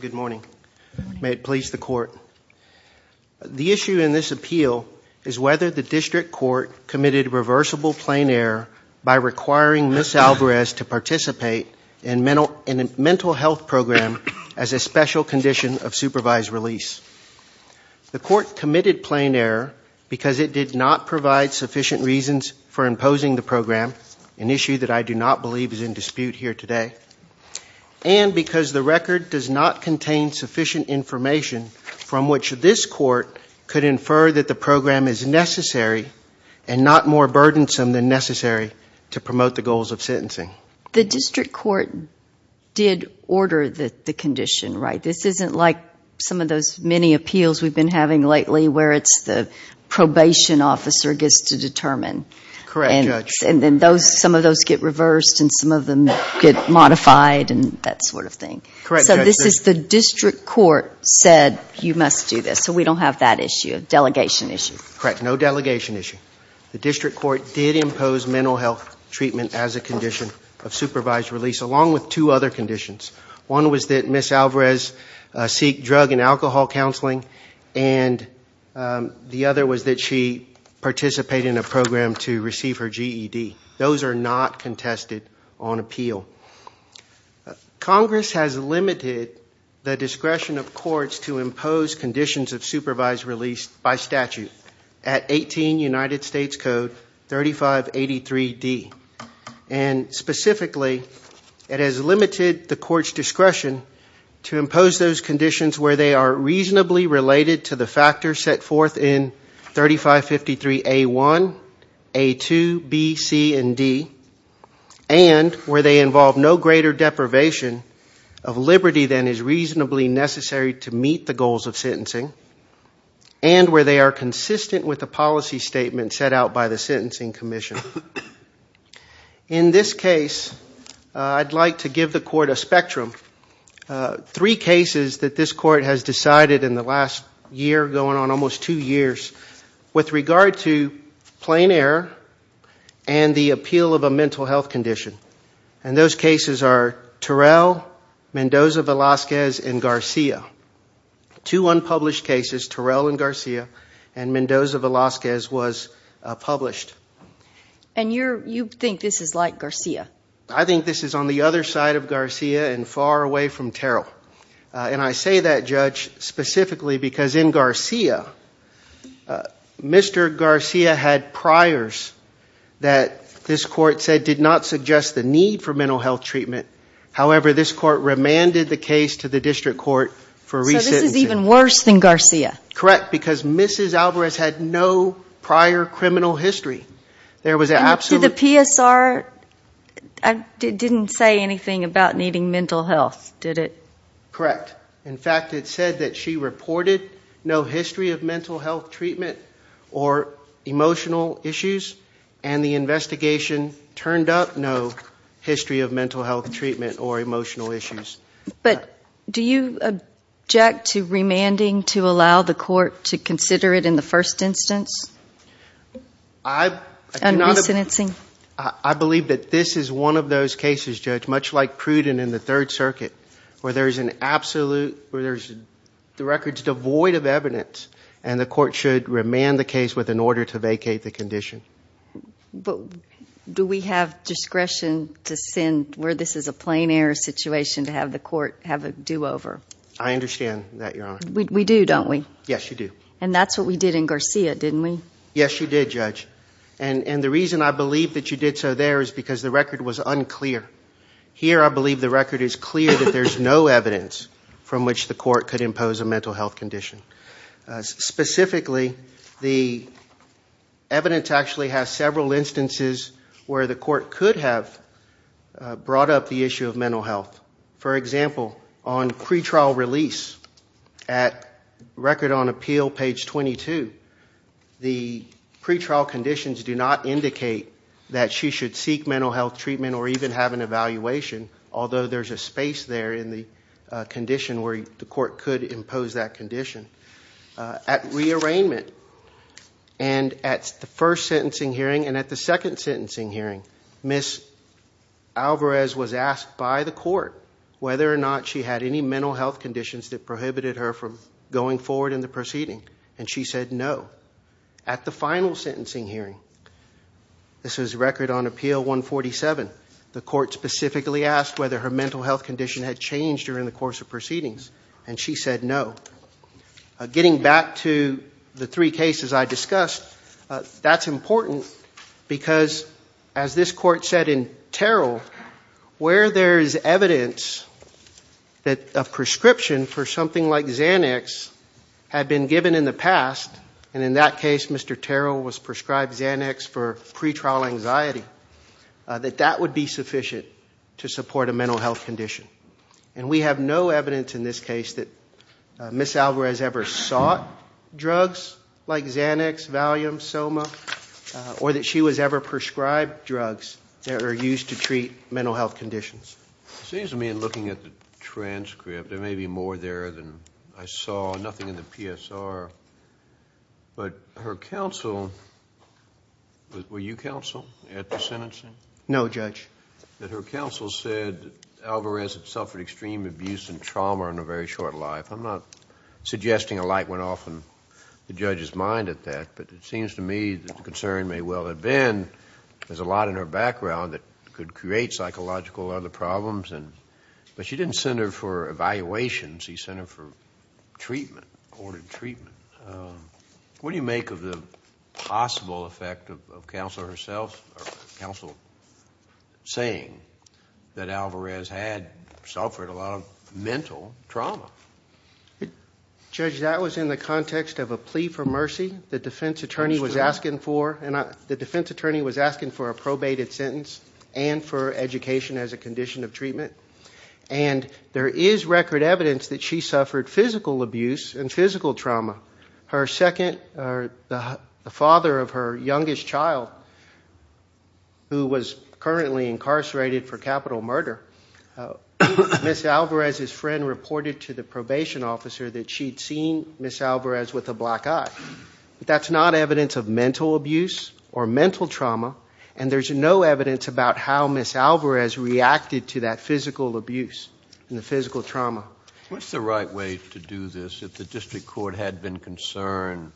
Good morning. May it please the court. The issue in this appeal is whether the district court committed reversible plane error by requiring Ms. Alvarez to participate in a mental health program as a special condition of supervised release. The court committed plane error because it did not provide sufficient reasons for imposing the program, an issue that I do not believe is in dispute here today, and because the record does not contain sufficient information from which this court could infer that the program is necessary and not more burdensome than necessary to promote the goals of sentencing. The district court did order the condition, right? This isn't like some of those many appeals we've been having lately, where it's the probation officer gets to determine, and some of those get reversed, and some of them get modified, and that sort of thing. So this is the district court said, you must do this. So we don't have that issue, a delegation issue. Correct. No delegation issue. The district court did impose mental health treatment as a condition of supervised release, along with two other conditions. One was that Ms. Alvarez seek drug and alcohol counseling, and the other was that she participate in a program to receive her GED. Those are not contested on appeal. Congress has limited the discretion of courts to impose conditions of supervised release by statute at 18 United States Code 3583D, and specifically, it has limited the court's discretion to impose those conditions where they are reasonably related to the factors set forth in 3553A1, A2, B, C, and D, and where they involve no greater deprivation of liberty than is reasonably necessary to meet the goals of sentencing, and where they are consistent with the policy statement set out by the Sentencing Commission. In this case, I'd like to give the court a spectrum. Three cases that this court has decided in the last year, going on almost two years, with regard to plain error and the appeal of a mental health condition. And those cases are Terrell, Mendoza-Velasquez, and Garcia. Two unpublished cases, Terrell and Garcia, and Mendoza-Velasquez was published. And you think this is like Garcia? I think this is on the other side of Garcia and far away from Terrell. And I say that, Judge, specifically because in Garcia, Mr. Garcia had priors that this court said did not suggest the need for mental health treatment. However, this court remanded the case to the district court for re-sentencing. So this is even worse than Garcia? Correct, because Mrs. Alvarez had no prior criminal history. There was an absolute... And to the PSR, it didn't say anything about needing mental health, did it? Correct. In fact, it said that she reported no history of mental health treatment or emotional issues, and the investigation turned up no history of mental health treatment or emotional issues. But do you object to remanding to allow the court to consider it in the first instance? I... And re-sentencing? I believe that this is one of those cases, Judge, much like Pruden in the Third Circuit, where there's an absolute... where there's... the record's devoid of evidence, and the court should remand the case with an order to vacate the condition. But do we have discretion to send, where this is a plain air situation, to have the court have a do-over? I understand that, Your Honor. We do, don't we? Yes, you do. And that's what we did in Garcia, didn't we? Yes, you did, Judge. And the reason I believe that you did so there is because the record was unclear. Here, I believe the record is clear that there's no evidence from which the court could impose a mental health condition. Specifically, the evidence actually has several instances where the court could have brought up the issue of mental health. For example, on pretrial release, at Record on Appeal, page 22, the pretrial conditions do not indicate that she should seek mental health treatment or even have an evaluation, although there's a space there in the condition where the court could impose that condition. At rearrangement, and at the first sentencing hearing and at the second sentencing hearing, Ms. Alvarez was asked by the court whether or not she had any mental health conditions that prohibited her from going forward in the proceeding, and she said no. At the final sentencing hearing, this is Record on Appeal 147, the court specifically asked whether her mental health condition had changed during the course of proceedings, and she said no. Getting back to the three cases I discussed, that's important because, as this court said in Terrell, where there is evidence that a prescription for something like Xanax had been given in the past, and in that case Mr. Terrell was prescribed Xanax for pretrial anxiety, that that would be sufficient to support a mental health condition. And we have no evidence in this case that Ms. Alvarez ever sought drugs like Xanax, Valium, Soma, or that she was ever prescribed drugs that are used to treat mental health conditions. It seems to me in looking at the transcript, there may be more there than I saw, nothing in the PSR, but her counsel... were you counsel at the sentencing? No, Judge. That her counsel said that Alvarez had suffered extreme abuse and trauma in a very short life. I'm not suggesting a light went off in the judge's mind at that, but it seems to me that the concern may well have been there's a lot in her background that could create psychological other problems. But she didn't send her for evaluations, she sent her for treatment, ordered treatment. What do you make of the possible effect of counsel herself, or counsel saying that Alvarez had suffered a lot of mental trauma? Judge, that was in the context of a plea for mercy. The defense attorney was asking for... the defense attorney was asking for a probated sentence and for education as a condition of treatment. And there is record evidence that she suffered physical abuse and physical trauma. Her second... the father of her youngest child, who was currently incarcerated for capital murder, Ms. Alvarez's friend reported to the probation officer that she'd seen Ms. Alvarez with a black eye. That's not evidence of mental abuse or mental trauma. And there's no evidence about how Ms. Alvarez reacted to that physical abuse and the physical trauma. What's the right way to do this if the district court had been concerned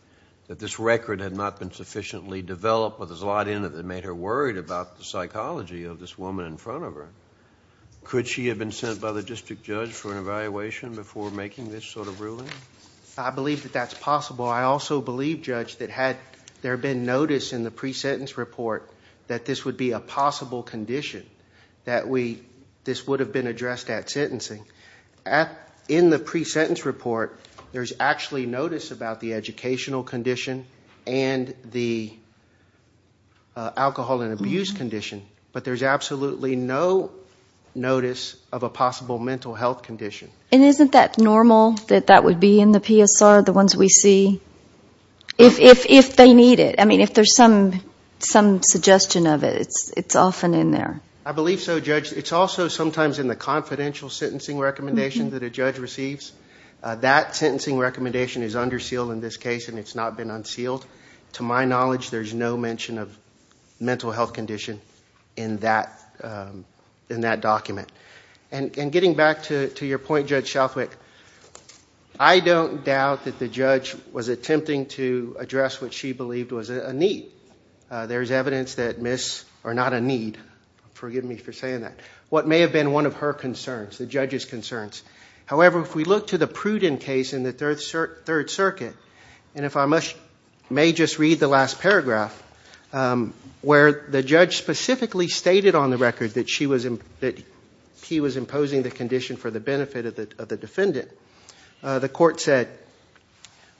that this record had not been sufficiently developed, or there's a lot in it that made her worried about the psychology of this woman in front of her? Could she have been sent by the district judge for an evaluation before making this sort of ruling? I believe that that's possible. I also believe, Judge, that had there been notice in the pre-sentence report that this would be a possible condition, that this would have been addressed at sentencing. In the pre-sentence report, there's actually notice about the educational condition and the alcohol and abuse condition, but there's absolutely no notice of a possible mental health condition. And isn't that normal that that would be in the PSR, the ones we see, if they need it? I mean, if there's some suggestion of it, it's often in there. I believe so, Judge. It's also sometimes in the confidential sentencing recommendation that a judge receives. That sentencing recommendation is under seal in this case, and it's not been unsealed. To my knowledge, there's no mention of mental health condition in that document. And getting back to your point, Judge Shalfwick, I don't doubt that the judge was attempting to address what she believed was a need. There's evidence that Ms.... or not a need, forgive me for saying that, what may have been one of her concerns, the judge's concerns. However, if we look to the Pruden case in the Third Circuit, and if I may just read the last paragraph, where the judge specifically stated on the record that she was... that he was imposing the condition for the benefit of the defendant, the court said,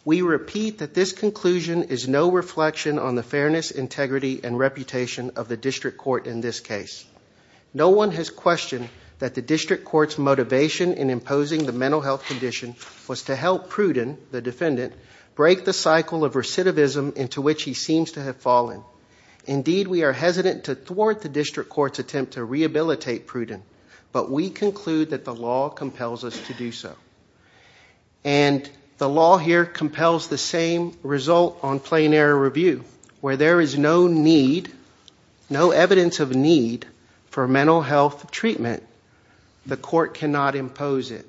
We repeat that this conclusion is no reflection on the fairness, integrity, and reputation of the District Court in this case. No one has questioned that the District Court's motivation in imposing the mental health condition was to help Pruden, the defendant, break the cycle of recidivism into which he seems to have fallen. Indeed, we are hesitant to thwart the District Court's attempt to rehabilitate Pruden, but we conclude that the law compels us to do so. And the law here compels the same result on plain error review, where there is no need, no evidence of need for mental health treatment, the court cannot impose it.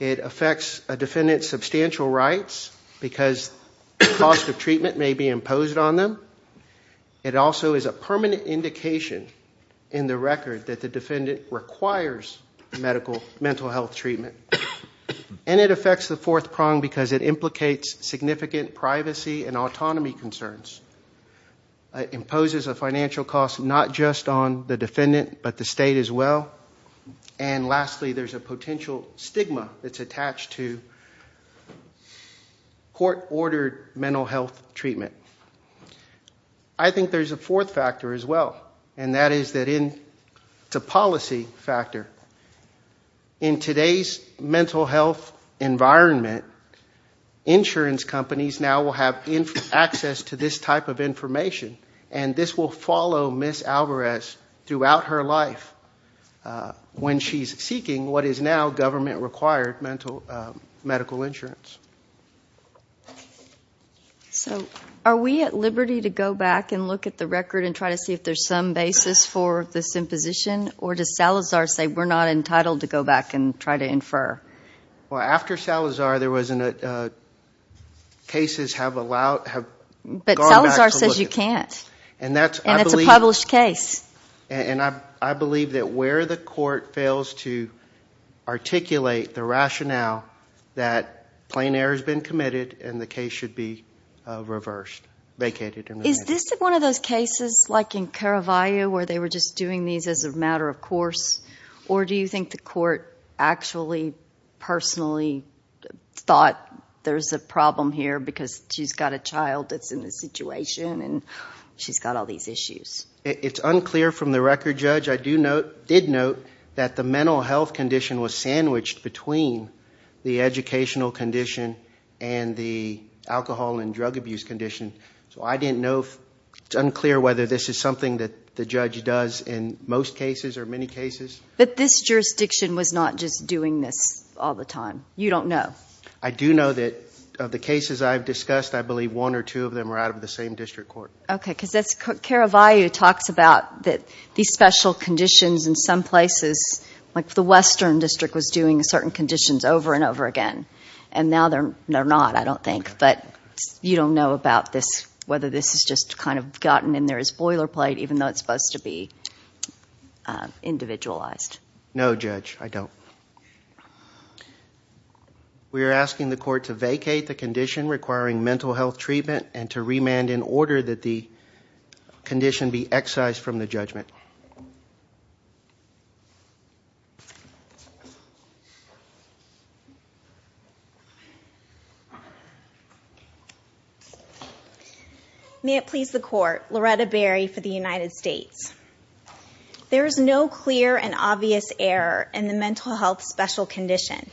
It affects a defendant's substantial rights because the cost of treatment may be imposed on them. It also is a permanent indication in the record that the defendant requires mental health treatment. And it affects the fourth prong because it implicates significant privacy and autonomy concerns. It imposes a financial cost not just on the defendant, but the state as well. And lastly, there's a potential stigma that's attached to court-ordered mental health treatment. I think there's a fourth factor as well, and that is that it's a policy factor. In today's mental health environment, insurance companies now will have access to this type of information, and this will follow Ms. Alvarez throughout her life when she's seeking what is now government-required medical insurance. Are we at liberty to go back and look at the record and try to see if there's some basis for this imposition, or does Salazar say we're not entitled to go back and try to infer? Well, after Salazar, there was a case where cases have gone back to look at. But Salazar says you can't, and it's a published case. And I believe that where the court fails to articulate the rationale that plain error has been committed and the case should be reversed, vacated. Is this one of those cases, like in Caravaglia, where they were just doing these as a matter of course, or do you think the court actually personally thought there's a problem here because she's got a child that's in this situation and she's got all these issues? It's unclear from the record, Judge. I did note that the mental health condition was sandwiched between the educational condition and the alcohol and drug abuse condition, so it's unclear whether this is something that the judge does in most cases or many cases. But this jurisdiction was not just doing this all the time. You don't know. I do know that of the cases I've discussed, I believe one or two of them are out of the same district court. Okay, because Caravaglia talks about these special conditions in some places, like the Western District was doing certain conditions over and over again, and now they're not, I don't think. But you don't know about this, whether this has just kind of gotten in there as boilerplate even though it's supposed to be individualized. No Judge, I don't. We are asking the court to vacate the condition requiring mental health treatment and to remand in order that the condition be excised from the judgment. May it please the court, Loretta Berry for the United States. There is no clear and obvious error in the mental health special condition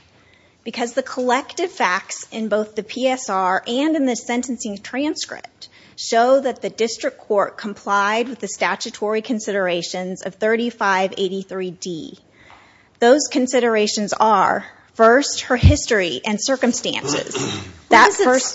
because the collective facts in both the PSR and in the sentencing transcript show that the district court complied with the statutory considerations of 3583D. Those considerations are, first, her history and circumstances.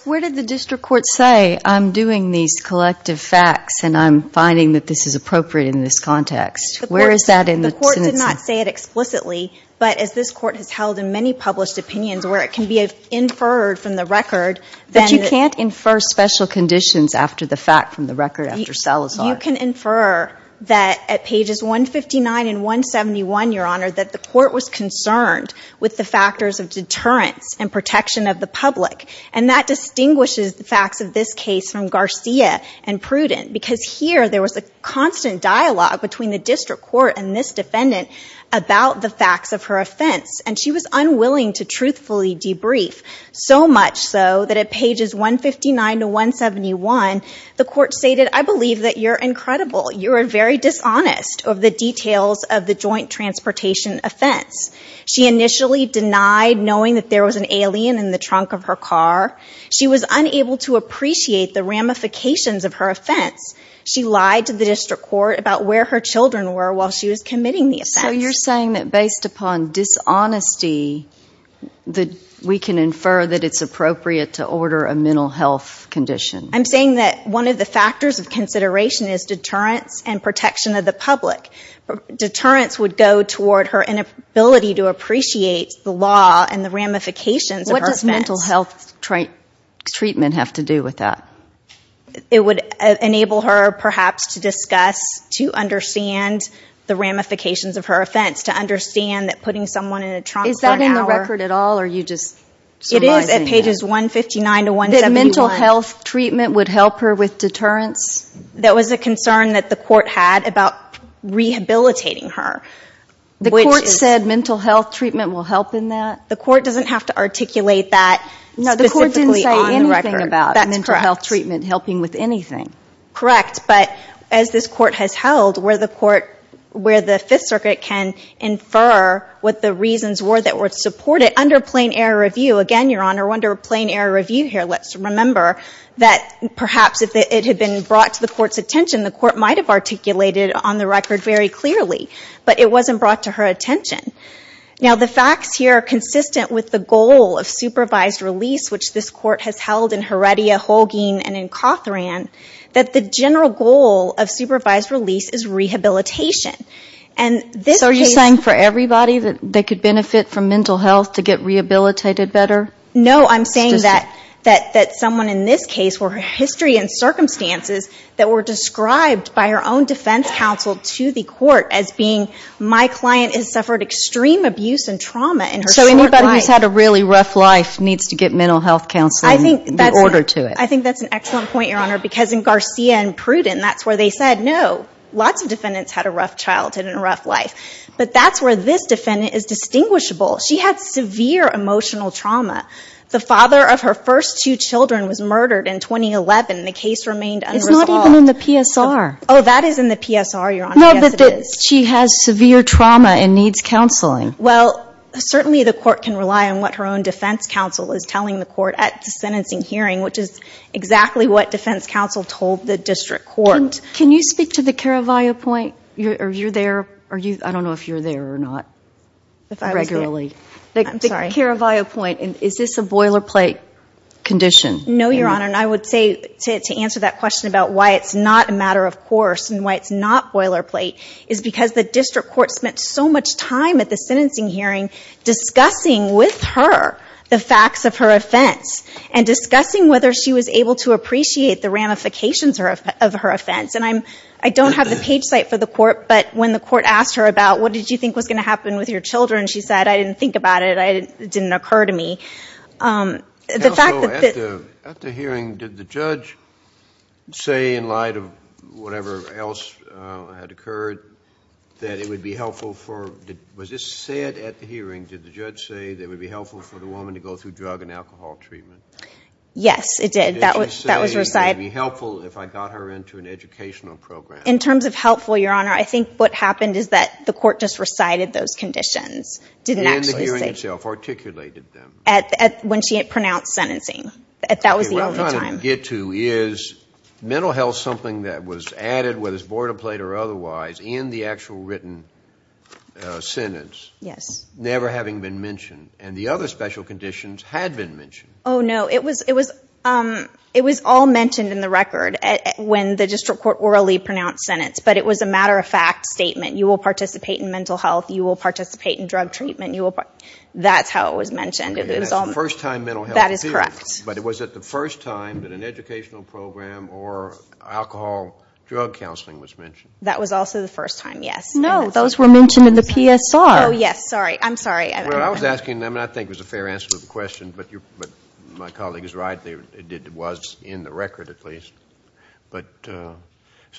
Where did the district court say, I'm doing these collective facts and I'm finding that this is appropriate in this context? Where is that in the sentencing? The court did not say it explicitly, but as this court has held in many published opinions where it can be inferred from the record, then you can't infer special conditions after the fact from the record after Salazar. You can infer that at pages 159 and 171, Your Honor, that the court was concerned with the factors of deterrence and protection of the public. And that distinguishes the facts of this case from Garcia and Pruden because here there was a constant dialogue between the district court and this defendant about the facts of her offense. And she was unwilling to truthfully debrief, so much so that at pages 159 to 171, the court stated, I believe that you're incredible. You are very dishonest of the details of the joint transportation offense. She initially denied knowing that there was an alien in the trunk of her car. She was unable to appreciate the ramifications of her offense. She lied to the district court about where her children were while she was committing the offense. So you're saying that based upon dishonesty, we can infer that it's appropriate to order a mental health condition. I'm saying that one of the factors of consideration is deterrence and protection of the public. Deterrence would go toward her inability to appreciate the law and the ramifications of her offense. What does mental health treatment have to do with that? It would enable her, perhaps, to discuss, to understand the ramifications of her offense, to understand that putting someone in a trunk for an hour... Is that in the record at all or are you just summarizing it? It is at pages 159 to 171. That mental health treatment would help her with deterrence? That was a concern that the court had about rehabilitating her. The court said mental health treatment will help in that? The court doesn't have to articulate that specifically on the record. That's correct. Mental health treatment helping with anything. Correct, but as this court has held, where the Fifth Circuit can infer what the reasons were that would support it under plain error review, again, Your Honor, under plain error review here, let's remember that perhaps if it had been brought to the court's attention, the court might have articulated on the record very clearly, but it wasn't brought to her attention. Now, the facts here are consistent with the goal of supervised release, which this court has held in Heredia, Holguin, and in Cothran, that the general goal of supervised release is rehabilitation. So, are you saying for everybody that they could benefit from mental health to get rehabilitated better? No, I'm saying that someone in this case, where her history and circumstances that were described by her own defense counsel to the court as being, my client has suffered extreme abuse and trauma in her short life. Life needs to get mental health counseling in order to it. I think that's an excellent point, Your Honor, because in Garcia and Pruden, that's where they said, no, lots of defendants had a rough childhood and a rough life, but that's where this defendant is distinguishable. She had severe emotional trauma. The father of her first two children was murdered in 2011, and the case remained unresolved. It's not even in the PSR. Oh, that is in the PSR, Your Honor. Yes, it is. No, but she has severe trauma and needs counseling. Well, certainly the court can rely on what her own defense counsel is telling the court at the sentencing hearing, which is exactly what defense counsel told the district court. Can you speak to the Caravaggio point? Are you there? Are you, I don't know if you're there or not, if I was there. Regularly. I'm sorry. The Caravaggio point. Is this a boilerplate condition? No, Your Honor, and I would say to answer that question about why it's not a matter of course and why it's not boilerplate is because the district court spent so much time at the sentencing hearing discussing with her the facts of her offense and discussing whether she was able to appreciate the ramifications of her offense, and I don't have the page cite for the court, but when the court asked her about what did you think was going to happen with your children, she said, I didn't think about it. It didn't occur to me. The fact that— Counsel, at the hearing, did the judge say in light of whatever else had occurred that it would be helpful for, was this said at the hearing, did the judge say that it would be helpful for the woman to go through drug and alcohol treatment? Yes, it did. That was recited. Did she say it would be helpful if I got her into an educational program? In terms of helpful, Your Honor, I think what happened is that the court just recited those conditions. Didn't actually say— In the hearing itself, articulated them. When she had pronounced sentencing. That was the only time. Okay. What I'm trying to get to is mental health, something that was added, whether it's boilerplate or otherwise, in the actual written sentence, never having been mentioned, and the other special conditions had been mentioned. Oh, no. It was all mentioned in the record when the district court orally pronounced sentence, but it was a matter-of-fact statement. You will participate in mental health. You will participate in drug treatment. That's how it was mentioned. It was all— That's the first time mental health appeared. That is correct. But it was at the first time that an educational program or alcohol drug counseling was mentioned. That was also the first time, yes. No, those were mentioned in the PSR. Oh, yes. Sorry. I'm sorry. I was asking them, and I think it was a fair answer to the question, but my colleague is right. It was in the record, at least. But so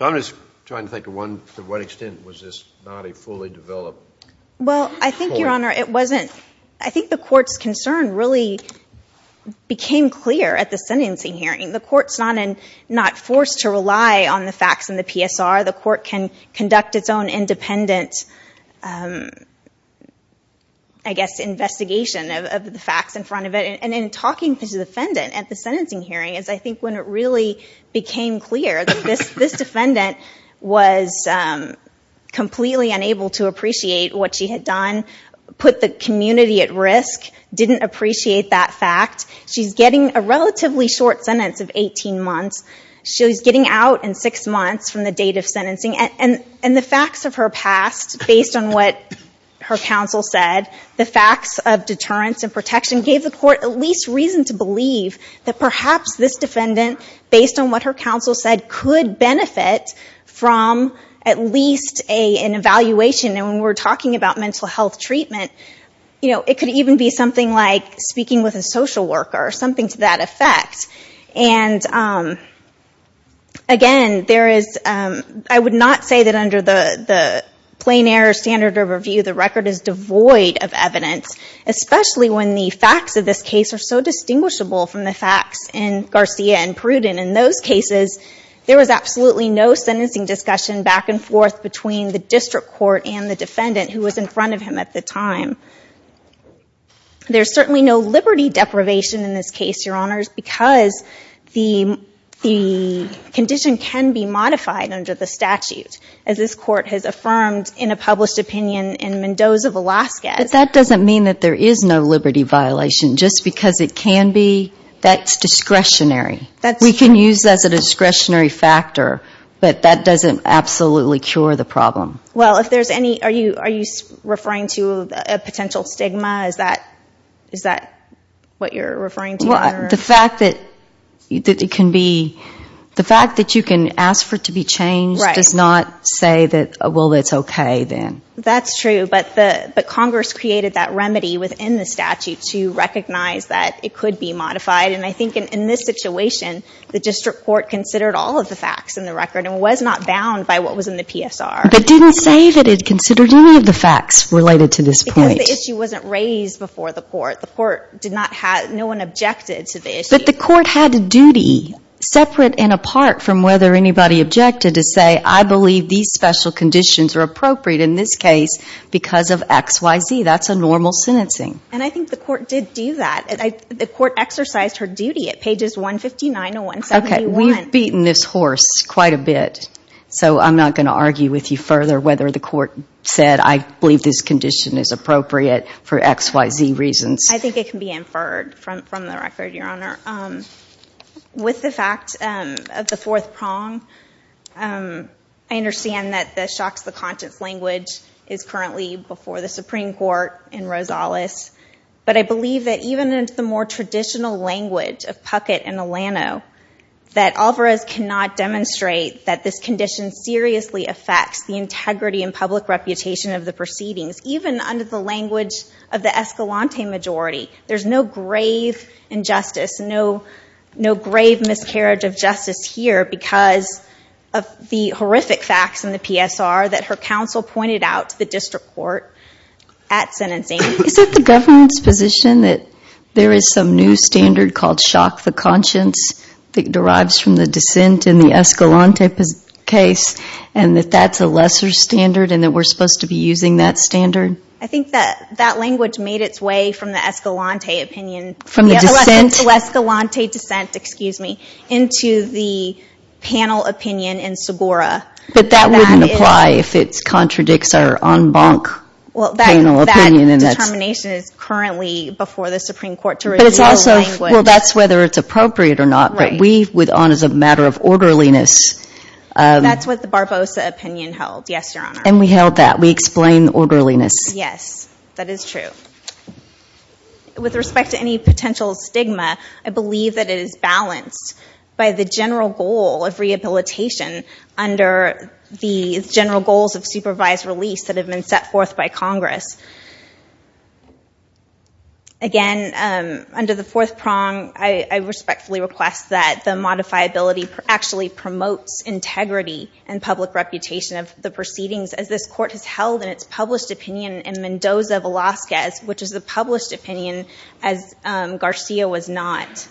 I'm just trying to think to what extent was this not a fully developed— Well, I think, Your Honor, it wasn't. I think the court's concern really became clear at the sentencing hearing. The court's not forced to rely on the facts in the PSR. The court can conduct its own independent, I guess, investigation of the facts in front of it. And in talking to the defendant at the sentencing hearing is, I think, when it really became clear that this defendant was completely unable to appreciate what she had done, put the community at risk, didn't appreciate that fact. She's getting a relatively short sentence of 18 months. She's getting out in six months from the date of sentencing. And the facts of her past, based on what her counsel said, the facts of deterrence and protection gave the court at least reason to believe that perhaps this defendant, based on what her counsel said, could benefit from at least an evaluation. And when we're talking about mental health treatment, it could even be something like speaking with a social worker or something to that effect. And again, I would not say that under the plain air standard of review, the record is devoid of evidence, especially when the facts of this case are so distinguishable from the facts in Garcia and Pruden. In those cases, there was absolutely no sentencing discussion back and forth between the district court and the defendant who was in front of him at the time. There's certainly no liberty deprivation in this case, Your Honors, because the condition can be modified under the statute, as this court has affirmed in a published opinion in Mendoza, Alaska. That doesn't mean that there is no liberty violation. Just because it can be, that's discretionary. We can use that as a discretionary factor, but that doesn't absolutely cure the problem. Well, if there's any, are you referring to a potential stigma? Is that what you're referring to? The fact that it can be, the fact that you can ask for it to be changed does not say that, well, it's okay then. That's true, but Congress created that remedy within the statute to recognize that it could be modified. I think in this situation, the district court considered all of the facts in the record and was not bound by what was in the PSR. But didn't say that it considered any of the facts related to this point. Because the issue wasn't raised before the court. The court did not have, no one objected to the issue. But the court had a duty, separate and apart from whether anybody objected, to say, I believe these special conditions are appropriate in this case because of X, Y, Z. That's a normal sentencing. I think the court did do that. The court exercised her duty at pages 159 to 171. Okay, we've beaten this horse quite a bit. So I'm not going to argue with you further whether the court said, I believe this condition is appropriate for X, Y, Z reasons. I think it can be inferred from the record, Your Honor. With the fact of the fourth prong, I understand that the shocks to the conscience language is currently before the Supreme Court in Rosales. But I believe that even in the more traditional language of Puckett and Alano, that Alvarez cannot demonstrate that this condition seriously affects the integrity and public reputation of the proceedings, even under the language of the Escalante majority. There's no grave injustice, no grave miscarriage of justice here because of the horrific facts in the PSR that her counsel pointed out to the district court at sentencing. Is it the government's position that there is some new standard called shock the conscience that derives from the dissent in the Escalante case, and that that's a lesser standard and that we're supposed to be using that standard? I think that that language made its way from the Escalante opinion. From the dissent? The Escalante dissent, excuse me, into the panel opinion in Sabora. But that wouldn't apply if it contradicts our en banc panel opinion. That determination is currently before the Supreme Court to reveal the language. Well, that's whether it's appropriate or not, but we would on as a matter of orderliness. That's what the Barbosa opinion held, yes, Your Honor. And we held that. We explained orderliness. Yes, that is true. With respect to any potential stigma, I believe that it is balanced by the general goal of the general goals of supervised release that have been set forth by Congress. Again, under the fourth prong, I respectfully request that the modifiability actually promotes integrity and public reputation of the proceedings, as this court has held in its published opinion in Mendoza-Velasquez, which is the published opinion, as Garcia was not.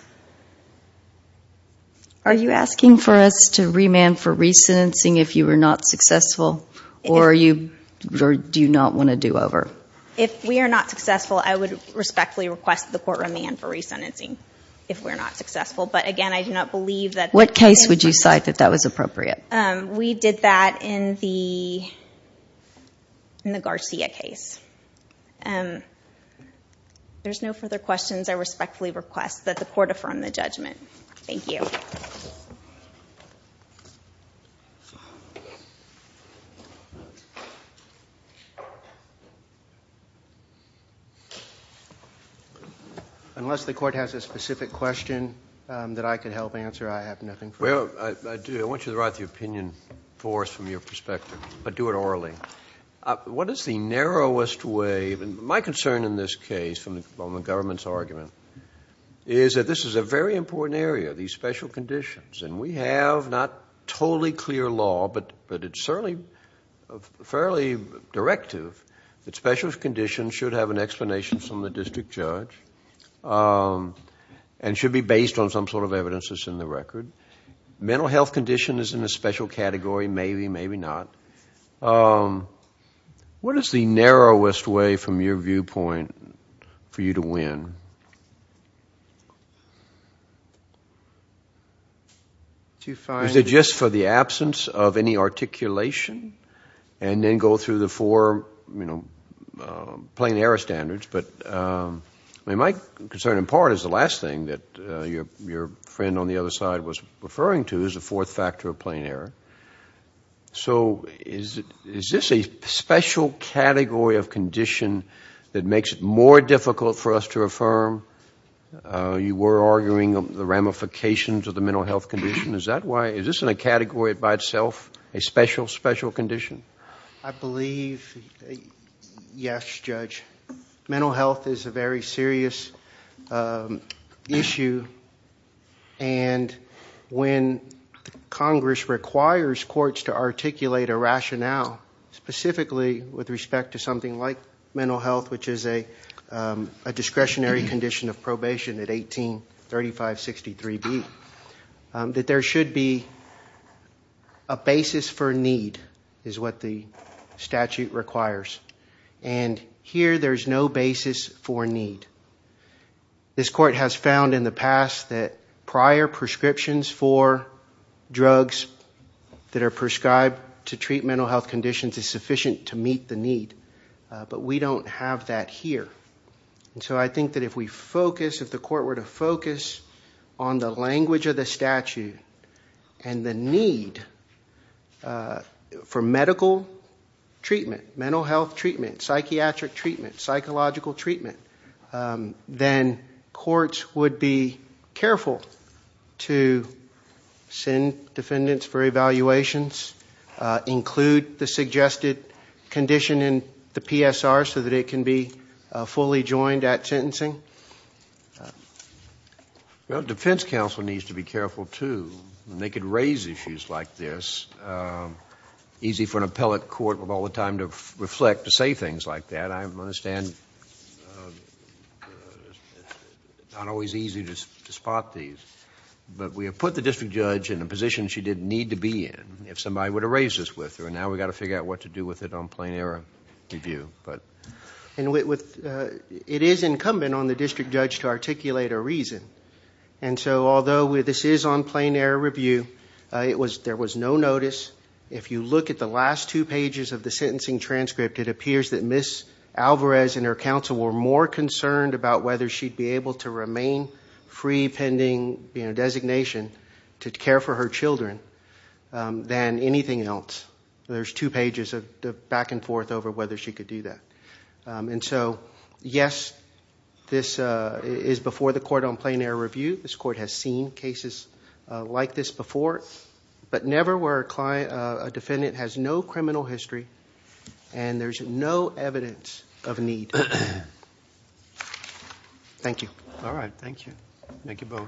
Are you asking for us to remand for re-sentencing if you are not successful, or do you not want to do over? If we are not successful, I would respectfully request that the court remand for re-sentencing if we're not successful. But again, I do not believe that— What case would you cite that that was appropriate? We did that in the Garcia case. There's no further questions. I respectfully request that the court affirm the judgment. Thank you. Unless the court has a specific question that I could help answer, I have nothing for you. I do. I want you to write the opinion for us from your perspective, but do it orally. What is the narrowest way—my concern in this case, from the government's argument, is that this is a very important area, these special conditions. We have not totally clear law, but it's certainly fairly directive that special conditions should have an explanation from the district judge and should be based on some sort of evidence that's in the record. Mental health condition is in a special category, maybe, maybe not. What is the narrowest way, from your viewpoint, for you to win? Is it just for the absence of any articulation? And then go through the four, you know, plain error standards, but my concern in part is the last thing that your friend on the other side was referring to is the fourth factor of plain error. So is this a special category of condition that makes it more difficult for us to affirm? You were arguing the ramifications of the mental health condition. Is that why—is this in a category by itself a special, special condition? I believe, yes, Judge. Mental health is a very serious issue, and when Congress requires courts to articulate a rationale, specifically with respect to something like mental health, which is a discretionary condition of probation at 183563B, that there should be a basis for need, is what the statute requires. And here, there's no basis for need. This court has found in the past that prior prescriptions for drugs that are prescribed to treat mental health conditions is sufficient to meet the need, but we don't have that here. So I think that if we focus, if the court were to focus on the language of the statute and the need for medical treatment, mental health treatment, psychiatric treatment, psychological treatment, then courts would be careful to send defendants for evaluations, include the suggested condition in the PSR so that it can be fully joined at sentencing. Well, defense counsel needs to be careful, too, and they could raise issues like this. Easy for an appellate court of all the time to reflect, to say things like that. I understand it's not always easy to spot these, but we have put the district judge in a position she didn't need to be in if somebody were to raise this with her, and now we've got to figure out what to do with it on plain error review, but... It is incumbent on the district judge to articulate a reason, and so although this is on plain error review, there was no notice. If you look at the last two pages of the sentencing transcript, it appears that Ms. Alvarez and her counsel were more concerned about whether she'd be able to remain free pending designation to care for her children than anything else. There's two pages of back and forth over whether she could do that, and so yes, this is before the court on plain error review. This court has seen cases like this before, but never where a defendant has no criminal history and there's no evidence of need. Thank you. All right. Thank you.